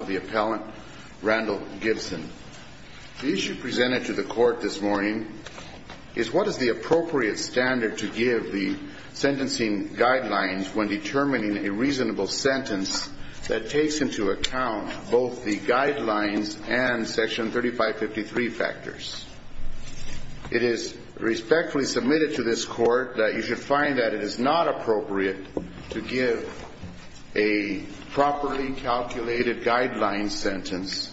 The issue presented to the court this morning is what is the appropriate standard to give the sentencing guidelines when determining a reasonable sentence that takes into account both the guidelines and section 3553 factors. It is respectfully submitted to this court that you should find that it is not appropriate to give a properly calculated guideline sentence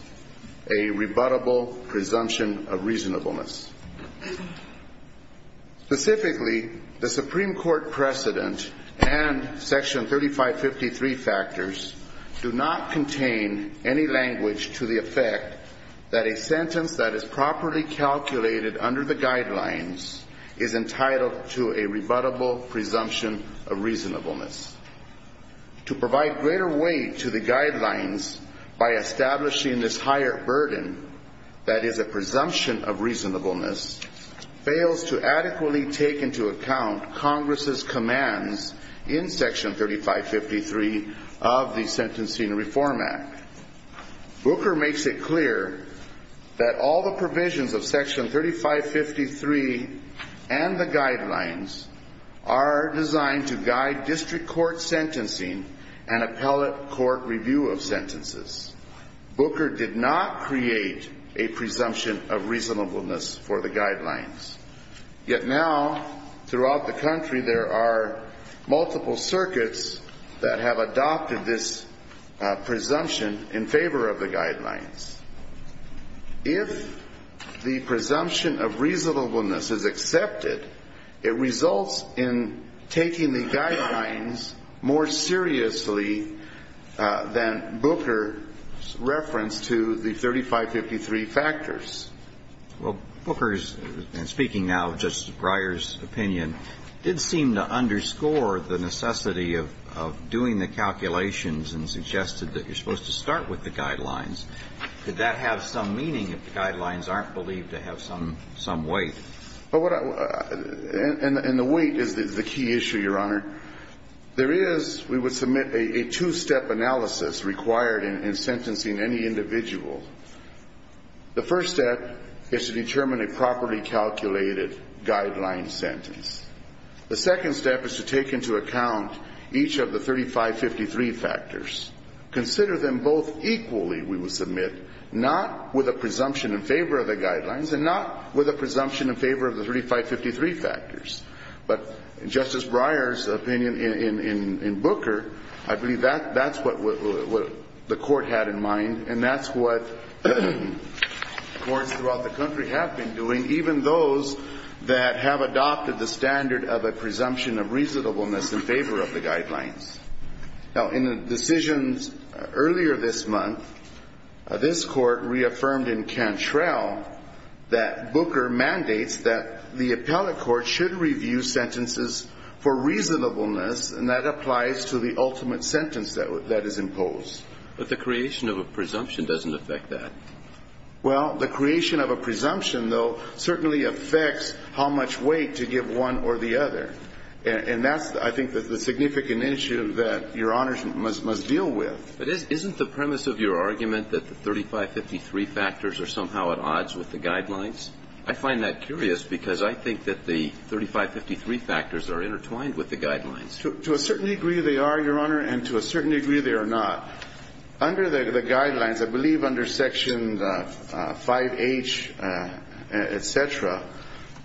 a rebuttable presumption of reasonableness. Specifically, the Supreme Court precedent and section 3553 factors do not contain any language to the effect that a sentence that is properly calculated under the guidelines is entitled to a rebuttable presumption of reasonableness. To provide greater weight to the guidelines by establishing this higher burden that is a presumption of reasonableness fails to adequately take into account Congress' commands in section 3553 of the Sentencing Reform Act. Booker makes it clear that all the provisions of section 3553 and the guidelines are designed to guide district court sentencing and appellate court review of sentences. Booker did not create a presumption of reasonableness for the guidelines. Yet now throughout the country there are multiple circuits that have adopted this presumption in favor of the guidelines. If the presumption of reasonableness is accepted, it results in taking the guidelines more seriously than Booker's reference to the 3553 factors. Well, Booker's, and speaking now of Justice Breyer's opinion, did seem to underscore the necessity of doing the calculations and suggested that you're supposed to start with the guidelines. Did that have some meaning if the guidelines aren't believed to have some weight? And the weight is the key issue, Your Honor. There is, we would submit, a two-step analysis required in sentencing any individual. The first step is to determine a properly calculated guideline sentence. The second step is to take into account each of the 3553 factors. Consider them both equally, we would submit, not with a presumption in favor of the guidelines and not with a presumption in favor of the 3553 factors. But Justice Breyer's opinion in Booker, I believe that's what the court had in mind and that's what courts throughout the country have been doing, even those that have adopted the standard of a presumption of reasonableness in favor of the guidelines. Now, in the decisions earlier this month, this court reaffirmed in Cantrell that Booker mandates that the appellate court should review sentences for reasonableness and that applies to the ultimate sentence that is imposed. But the creation of a presumption doesn't affect that. Well, the creation of a presumption, though, certainly affects how much weight to give one or the other. And that's, I think, the significant issue that Your Honors must deal with. But isn't the premise of your argument that the 3553 factors are somehow at odds with the guidelines? I find that curious because I think that the 3553 factors are intertwined with the guidelines. To a certain degree they are, Your Honor, and to a certain degree they are not. Under the guidelines, I believe under Section 5H, et cetera,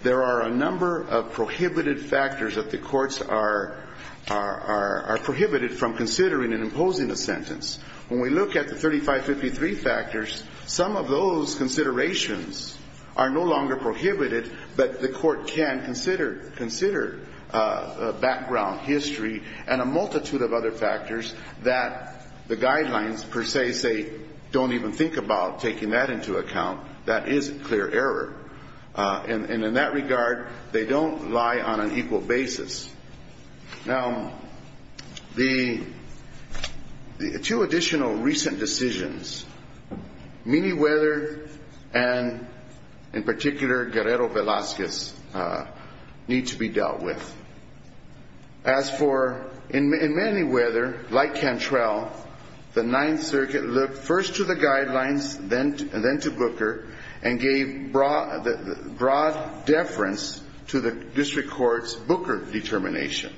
there are a number of prohibited factors that the courts are prohibited from considering and imposing a sentence. When we look at the 3553 factors, some of those considerations are no longer prohibited, but the court can consider background history and a multitude of other factors that the guidelines per se say don't even think about taking that into account. That is a clear error. And in that regard, they don't lie on an equal basis. Now, the two additional recent decisions, Manyweather and, in particular, Guerrero Velazquez, need to be dealt with. As for, in Manyweather, like Cantrell, the Ninth Circuit looked first to the guidelines, then to Booker, and gave broad deference to the district court's Booker determination.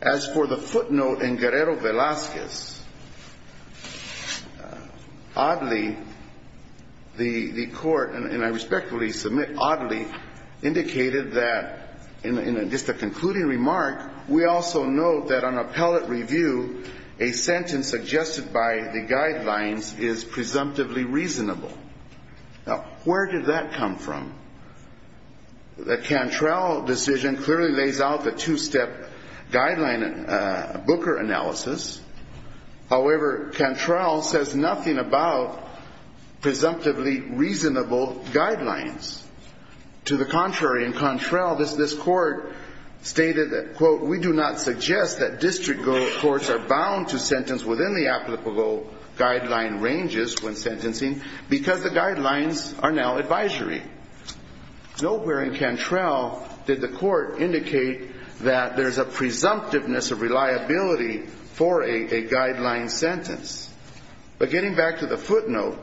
As for the footnote in Guerrero Velazquez, oddly, the court, and I respectfully submit oddly, indicated that, in just a concluding remark, we also note that on appellate review, a sentence suggested by the guidelines is presumptively reasonable. Now, where did that come from? The Cantrell decision clearly lays out the two-step guideline Booker analysis. However, Cantrell says nothing about presumptively reasonable guidelines. To the contrary, in Cantrell, this court stated that, quote, courts are bound to sentence within the applicable guideline ranges when sentencing because the guidelines are now advisory. Nowhere in Cantrell did the court indicate that there's a presumptiveness of reliability for a guideline sentence. But getting back to the footnote,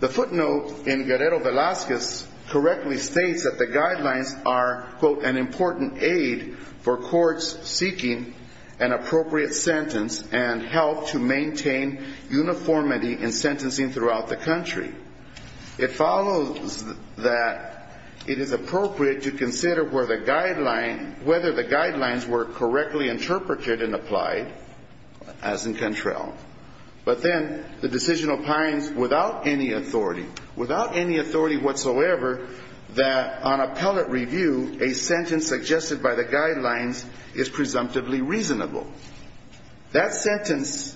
the footnote in Guerrero Velazquez correctly states that the guidelines are, quote, an important aid for courts seeking an appropriate sentence and help to maintain uniformity in sentencing throughout the country. It follows that it is appropriate to consider whether the guidelines were correctly interpreted and applied, as in Cantrell. But then the decision opines without any authority, without any authority whatsoever, that on appellate review, a sentence suggested by the guidelines is presumptively reasonable. That sentence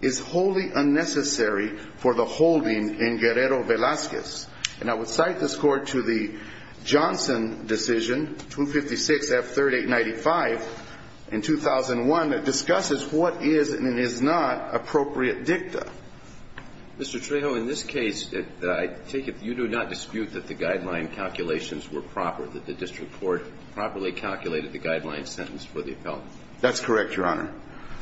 is wholly unnecessary for the holding in Guerrero Velazquez. And I would cite this Court to the Johnson decision, 256F3895, in 2001, that discusses what is and is not appropriate dicta. Mr. Trejo, in this case, I take it you do not dispute that the guideline calculations were proper, that the district court properly calculated the guideline sentence for the appellant. That's correct, Your Honor.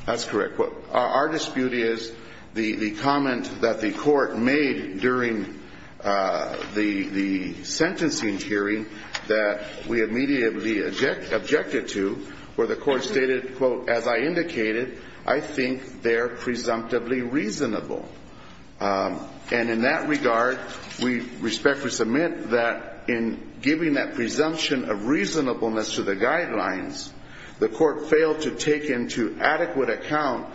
That's correct. Our dispute is the comment that the Court made during the sentencing hearing that we immediately objected to, where the Court stated, quote, as I indicated, I think they're presumptively reasonable. And in that regard, we respectfully submit that in giving that presumption of reasonableness to the guidelines, the Court failed to take into adequate account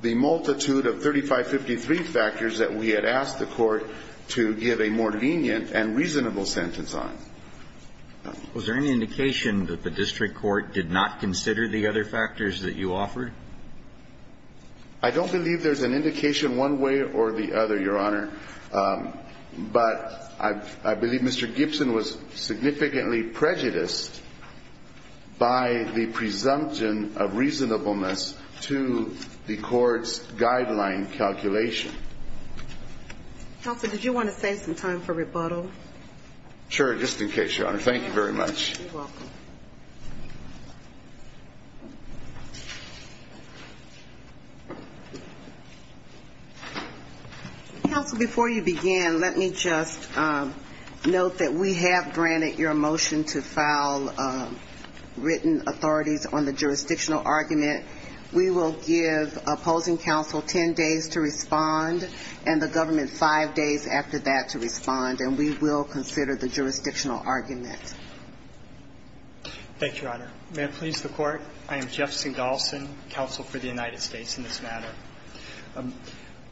the multitude of 3553 factors that we had asked the Court to give a more lenient and reasonable sentence on. Was there any indication that the district court did not consider the other factors that you offered? I don't believe there's an indication one way or the other, Your Honor. But I believe Mr. Gibson was significantly prejudiced by the presumption of reasonableness to the Court's guideline calculation. Counsel, did you want to save some time for rebuttal? Sure. Just in case, Your Honor. Thank you very much. You're welcome. Counsel, before you begin, let me just note that we have granted your motion to file written authorities on the jurisdictional argument. We will give opposing counsel 10 days to respond and the government five days after that to respond, and we will consider the jurisdictional argument. Thank you, Your Honor. May it please the Court. I am Jeff Singolson, counsel for the United States in this matter.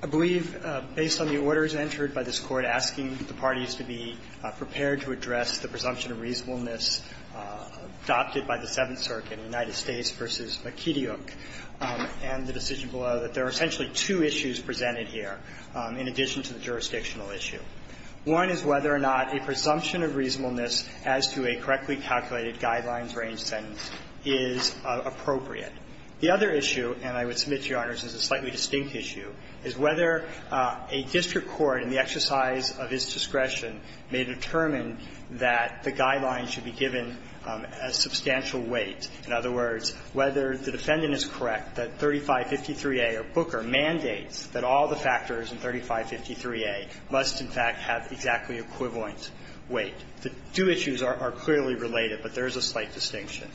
I believe, based on the orders entered by this Court asking the parties to be prepared to address the presumption of reasonableness adopted by the Seventh Circuit, United States v. McKedy, and the decision below, that there are essentially two issues presented here in addition to the jurisdictional issue. One is whether or not a presumption of reasonableness as to a correctly calculated guidelines range sentence is appropriate. The other issue, and I would submit, Your Honors, is a slightly distinct issue, is whether a district court in the exercise of its discretion may determine that the guidelines should be given a substantial weight. In other words, whether the defendant is correct that 3553A or Booker mandates that all the factors in 3553A must in fact have exactly equivalent weight. The two issues are clearly related, but there is a slight distinction.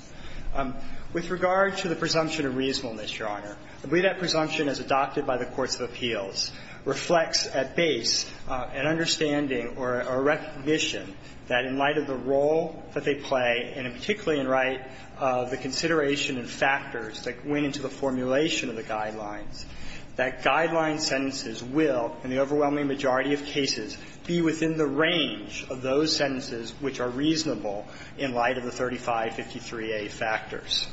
With regard to the presumption of reasonableness, Your Honor, I believe that presumption as adopted by the courts of appeals reflects at base an understanding or a recognition that in light of the role that they play, and particularly in light of the consideration of factors that went into the formulation of the guidelines, that guideline sentences will, in the overwhelming majority of cases, be within the range of those sentences which are reasonable in light of the 3553A factors.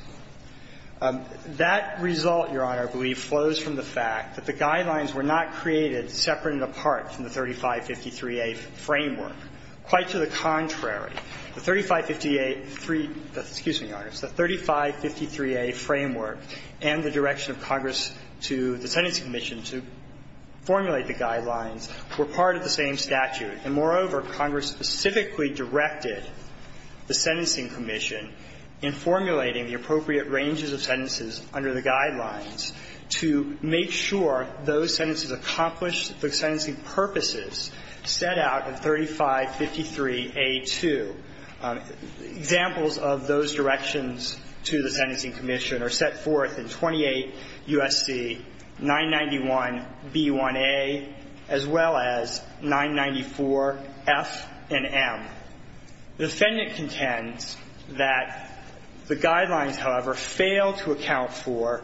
That result, Your Honor, I believe flows from the fact that the guidelines were not created separate and apart from the 3553A framework. Quite to the contrary, the 3553A framework and the direction of Congress to the sentencing commission to formulate the guidelines were part of the same statute. And moreover, Congress specifically directed the sentencing commission in formulating the appropriate ranges of sentences under the guidelines to make sure those sentences accomplished the sentencing purposes set out in 3553A2. Examples of those directions to the sentencing commission are set forth in 28 U.S.C. 991b1a as well as 994f and m. The defendant contends that the guidelines, however, fail to account for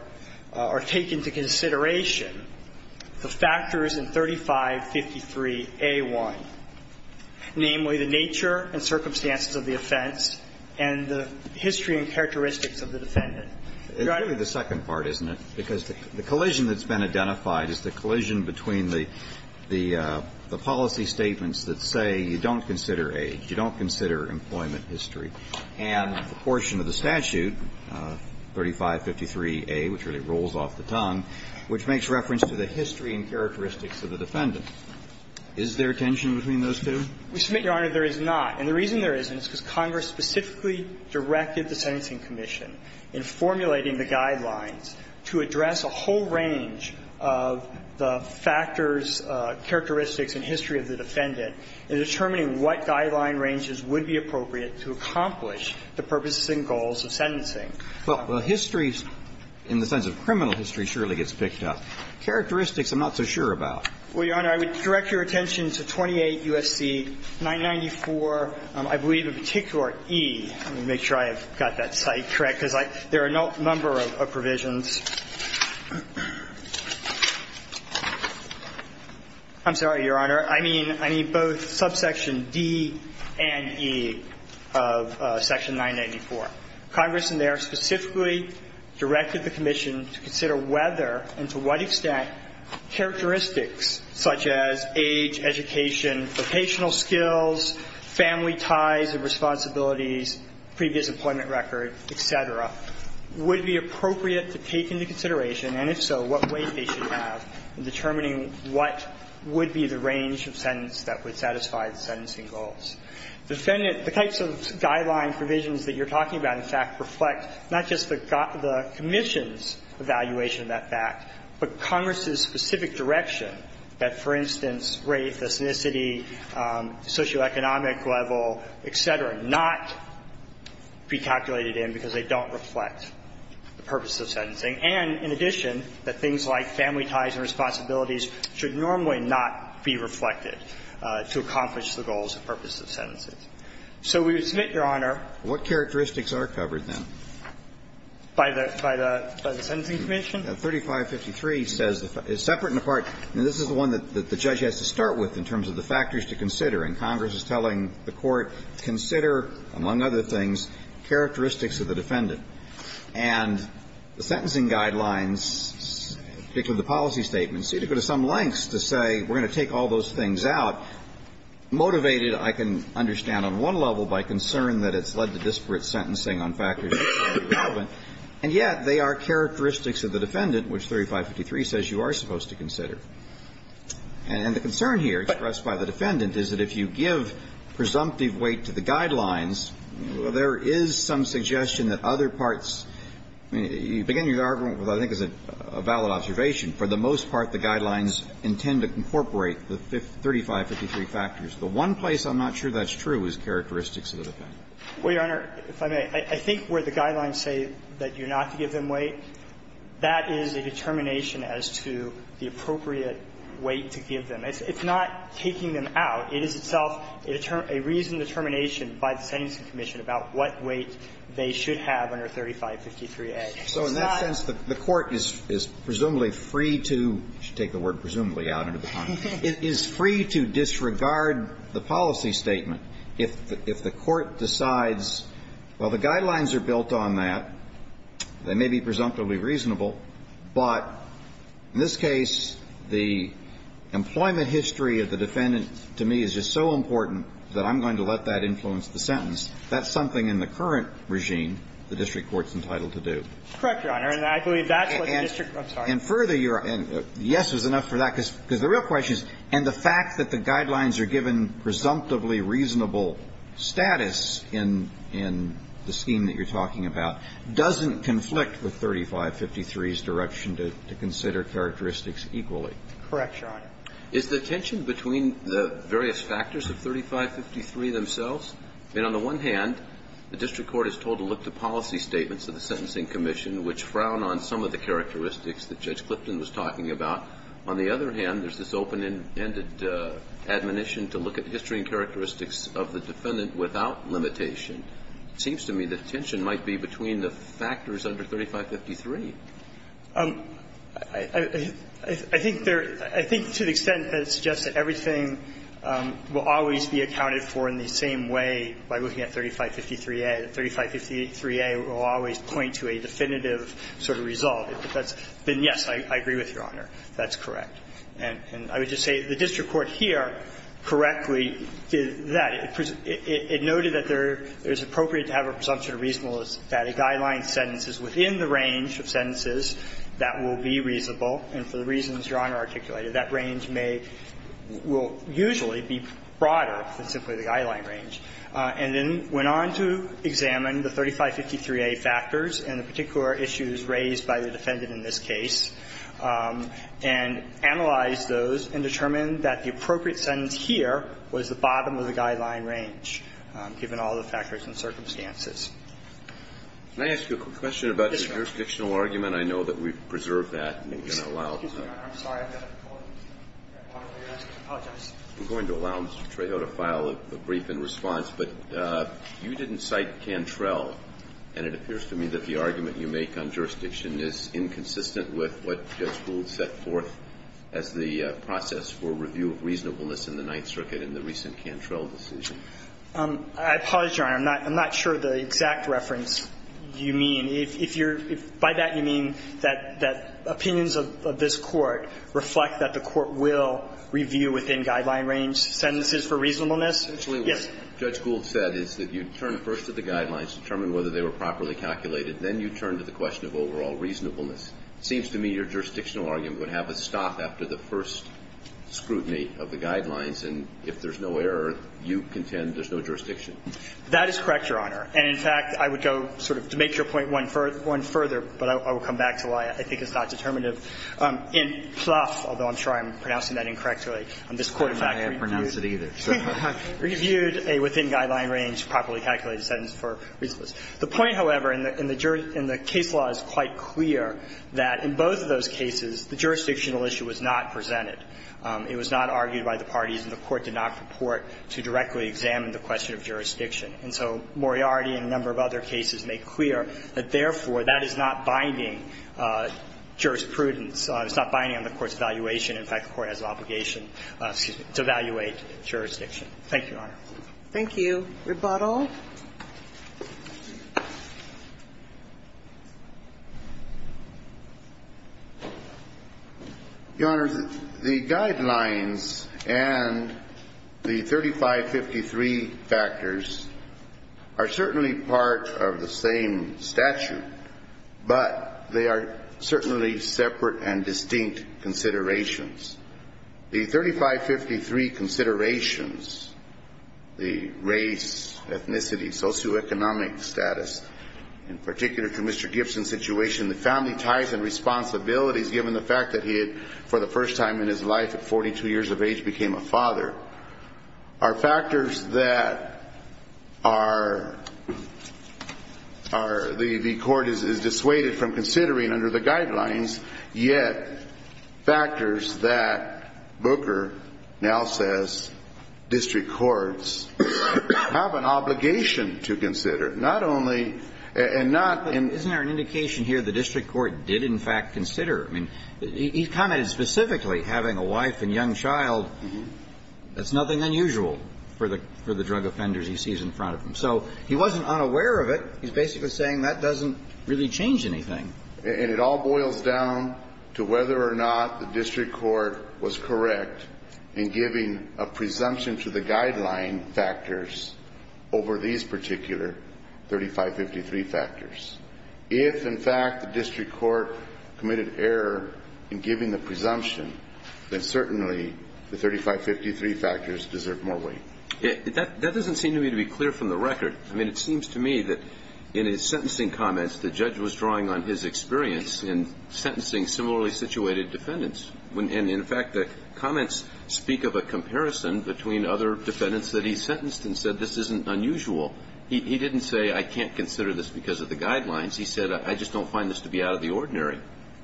or take into consideration the factors in 3553A1, namely the nature and circumstances of the offense and the history and characteristics of the defendant. It ought to be the second part, isn't it? Because the collision that's been identified is the collision between the policy statements that say you don't consider age, you don't consider employment And the portion of the statute, 3553A, which really rolls off the tongue, which makes reference to the history and characteristics of the defendant. Is there tension between those two? We submit, Your Honor, there is not. And the reason there isn't is because Congress specifically directed the sentencing commission in formulating the guidelines to address a whole range of the factors, characteristics and history of the defendant in determining what guideline ranges would be appropriate to accomplish the purposes and goals of sentencing. Well, history, in the sense of criminal history, surely gets picked up. Characteristics, I'm not so sure about. Well, Your Honor, I would direct your attention to 28 U.S.C. 994, I believe a particular E. Let me make sure I have got that site correct, because there are a number of provisions. I'm sorry, Your Honor. I mean both subsection D and E of section 994. Congress in there specifically directed the commission to consider whether and to what extent characteristics such as age, education, vocational skills, family ties and responsibilities, previous employment record, et cetera, would be appropriate to take into consideration, and if so, what weight they should have in determining what would be the range of sentence that would satisfy the sentencing goals. Defendant – the types of guideline provisions that you're talking about, in fact, reflect not just the commission's evaluation of that fact, but Congress's specific direction that, for instance, race, ethnicity, socioeconomic level, et cetera, not be calculated in because they don't reflect the purpose of sentencing, and in addition that things like family ties and responsibilities should normally not be reflected to accomplish the goals and purposes of sentencing. So we would submit, Your Honor. What characteristics are covered, then? By the – by the – by the Sentencing Commission? 3553 says the – is separate and apart. And this is the one that the judge has to start with in terms of the factors to consider. And Congress is telling the Court, consider, among other things, characteristics of the defendant. And the sentencing guidelines, particularly the policy statements, seem to go to some lengths to say we're going to take all those things out. Motivated, I can understand on one level by concern that it's led to disparate sentencing on factors that are relevant, and yet they are characteristics of the defendant, which 3553 says you are supposed to consider. And the concern here expressed by the defendant is that if you give presumptive weight to the guidelines, there is some suggestion that other parts – I mean, you begin your argument with what I think is a valid observation. For the most part, the guidelines intend to incorporate the 3553 factors. The one place I'm not sure that's true is characteristics of the defendant. Well, Your Honor, if I may, I think where the guidelines say that you're not to give them weight, that is a determination as to the appropriate weight to give them. It's not taking them out. It is itself a reasoned determination by the Sentencing Commission about what weight they should have under 3553A. So in that sense, the Court is presumably free to – I should take the word presumably out of the context – is free to disregard the policy statement if the Court decides, well, the guidelines are built on that, they may be presumptively reasonable, but in this case, the employment history of the defendant, to me, is a reasonable determination. And the fact that the guidelines are given presumptively reasonable status in the scheme that you're talking about doesn't conflict with 3553A's direction to consider characteristics equally. Correct, Your Honor. I think there's factors of 3553 themselves. I mean, on the one hand, the district court is told to look to policy statements of the Sentencing Commission, which frown on some of the characteristics that Judge Clifton was talking about. On the other hand, there's this open-ended admonition to look at history and characteristics of the defendant without limitation. It seems to me the tension might be between the factors under 3553. I think there – I think to the extent that it suggests that everything will always be accounted for in the same way by looking at 3553A, that 3553A will always point to a definitive sort of result, then yes, I agree with Your Honor, that's correct. And I would just say the district court here correctly did that. It noted that there's appropriate to have a presumption of reasonableness that a guideline sentence is within the range of sentences that will be reasonable, and for the reasons Your Honor articulated, that range may – will usually be broader than simply the guideline range, and then went on to examine the 3553A factors and the particular issues raised by the defendant in this case, and analyzed those and determined that the appropriate sentence here was the bottom of the guideline range, given all the factors and circumstances. Can I ask you a quick question about the jurisdictional argument? Yes, Your Honor. I know that we've preserved that. I'm going to allow Mr. Trejo to file a brief in response, but you didn't cite Cantrell, and it appears to me that the argument you make on jurisdiction is inconsistent with what Judge Gould set forth as the process for review of reasonableness in the Ninth Circuit in the recent Cantrell decision. I apologize, Your Honor. I'm not sure the exact reference you mean. If you're – by that, you mean that opinions of this Court reflect that the Court will review within guideline range sentences for reasonableness? Yes. Actually, what Judge Gould said is that you turn first to the guidelines, determine whether they were properly calculated, then you turn to the question of overall reasonableness. It seems to me your jurisdictional argument would have a stop after the first scrutiny of the guidelines, and if there's no error, you contend there's no jurisdiction. That is correct, Your Honor. And, in fact, I would go sort of to make your point one further, but I will come back to why I think it's not determinative. In Plouffe, although I'm sure I'm pronouncing that incorrectly, this Court, in fact, reviewed a within guideline range properly calculated sentence for reasonableness. The point, however, in the case law is quite clear that in both of those cases, the jurisdictional issue was not presented. It was not argued by the parties, and the Court did not purport to directly examine the question of jurisdiction. And so Moriarty and a number of other cases make clear that, therefore, that is not binding jurisprudence. It's not binding on the Court's evaluation. In fact, the Court has an obligation to evaluate jurisdiction. Thank you, Your Honor. Thank you. Rebuttal. Your Honor, the guidelines and the 3553 factors are certainly part of the same statute, but they are certainly separate and distinct considerations. The 3553 considerations, the race, ethnicity, socioeconomic status, in particular to Mr. Gibson's situation, the family ties and responsibilities given the fact that he had, for the first time in his life at 42 years of age, became a father, are factors that are the Court is dissuaded from considering under the guidelines, yet factors that Booker now says district courts have an obligation to consider. Not only and not in the case. Isn't there an indication here the district court did, in fact, consider? I mean, he commented specifically having a wife and young child, that's nothing unusual for the drug offenders he sees in front of him. So he wasn't unaware of it. He's basically saying that doesn't really change anything. And it all boils down to whether or not the district court was correct in giving a presumption to the guideline factors over these particular 3553 factors. If, in fact, the district court committed error in giving the presumption, then certainly the 3553 factors deserve more weight. That doesn't seem to me to be clear from the record. I mean, it seems to me that in his sentencing comments the judge was drawing on his experience in sentencing similarly situated defendants. And, in fact, the comments speak of a comparison between other defendants that he sentenced and said this isn't unusual. He didn't say I can't consider this because of the guidelines. He said I just don't find this to be out of the ordinary.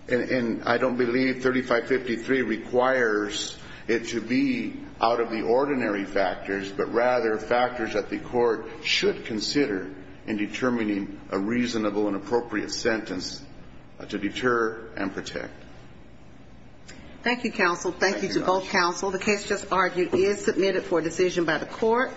And I don't believe 3553 requires it to be out of the ordinary factors, but rather factors that the court should consider in determining a reasonable and appropriate sentence to deter and protect. Thank you, counsel. Thank you to both counsel. The case just argued is submitted for decision by the court.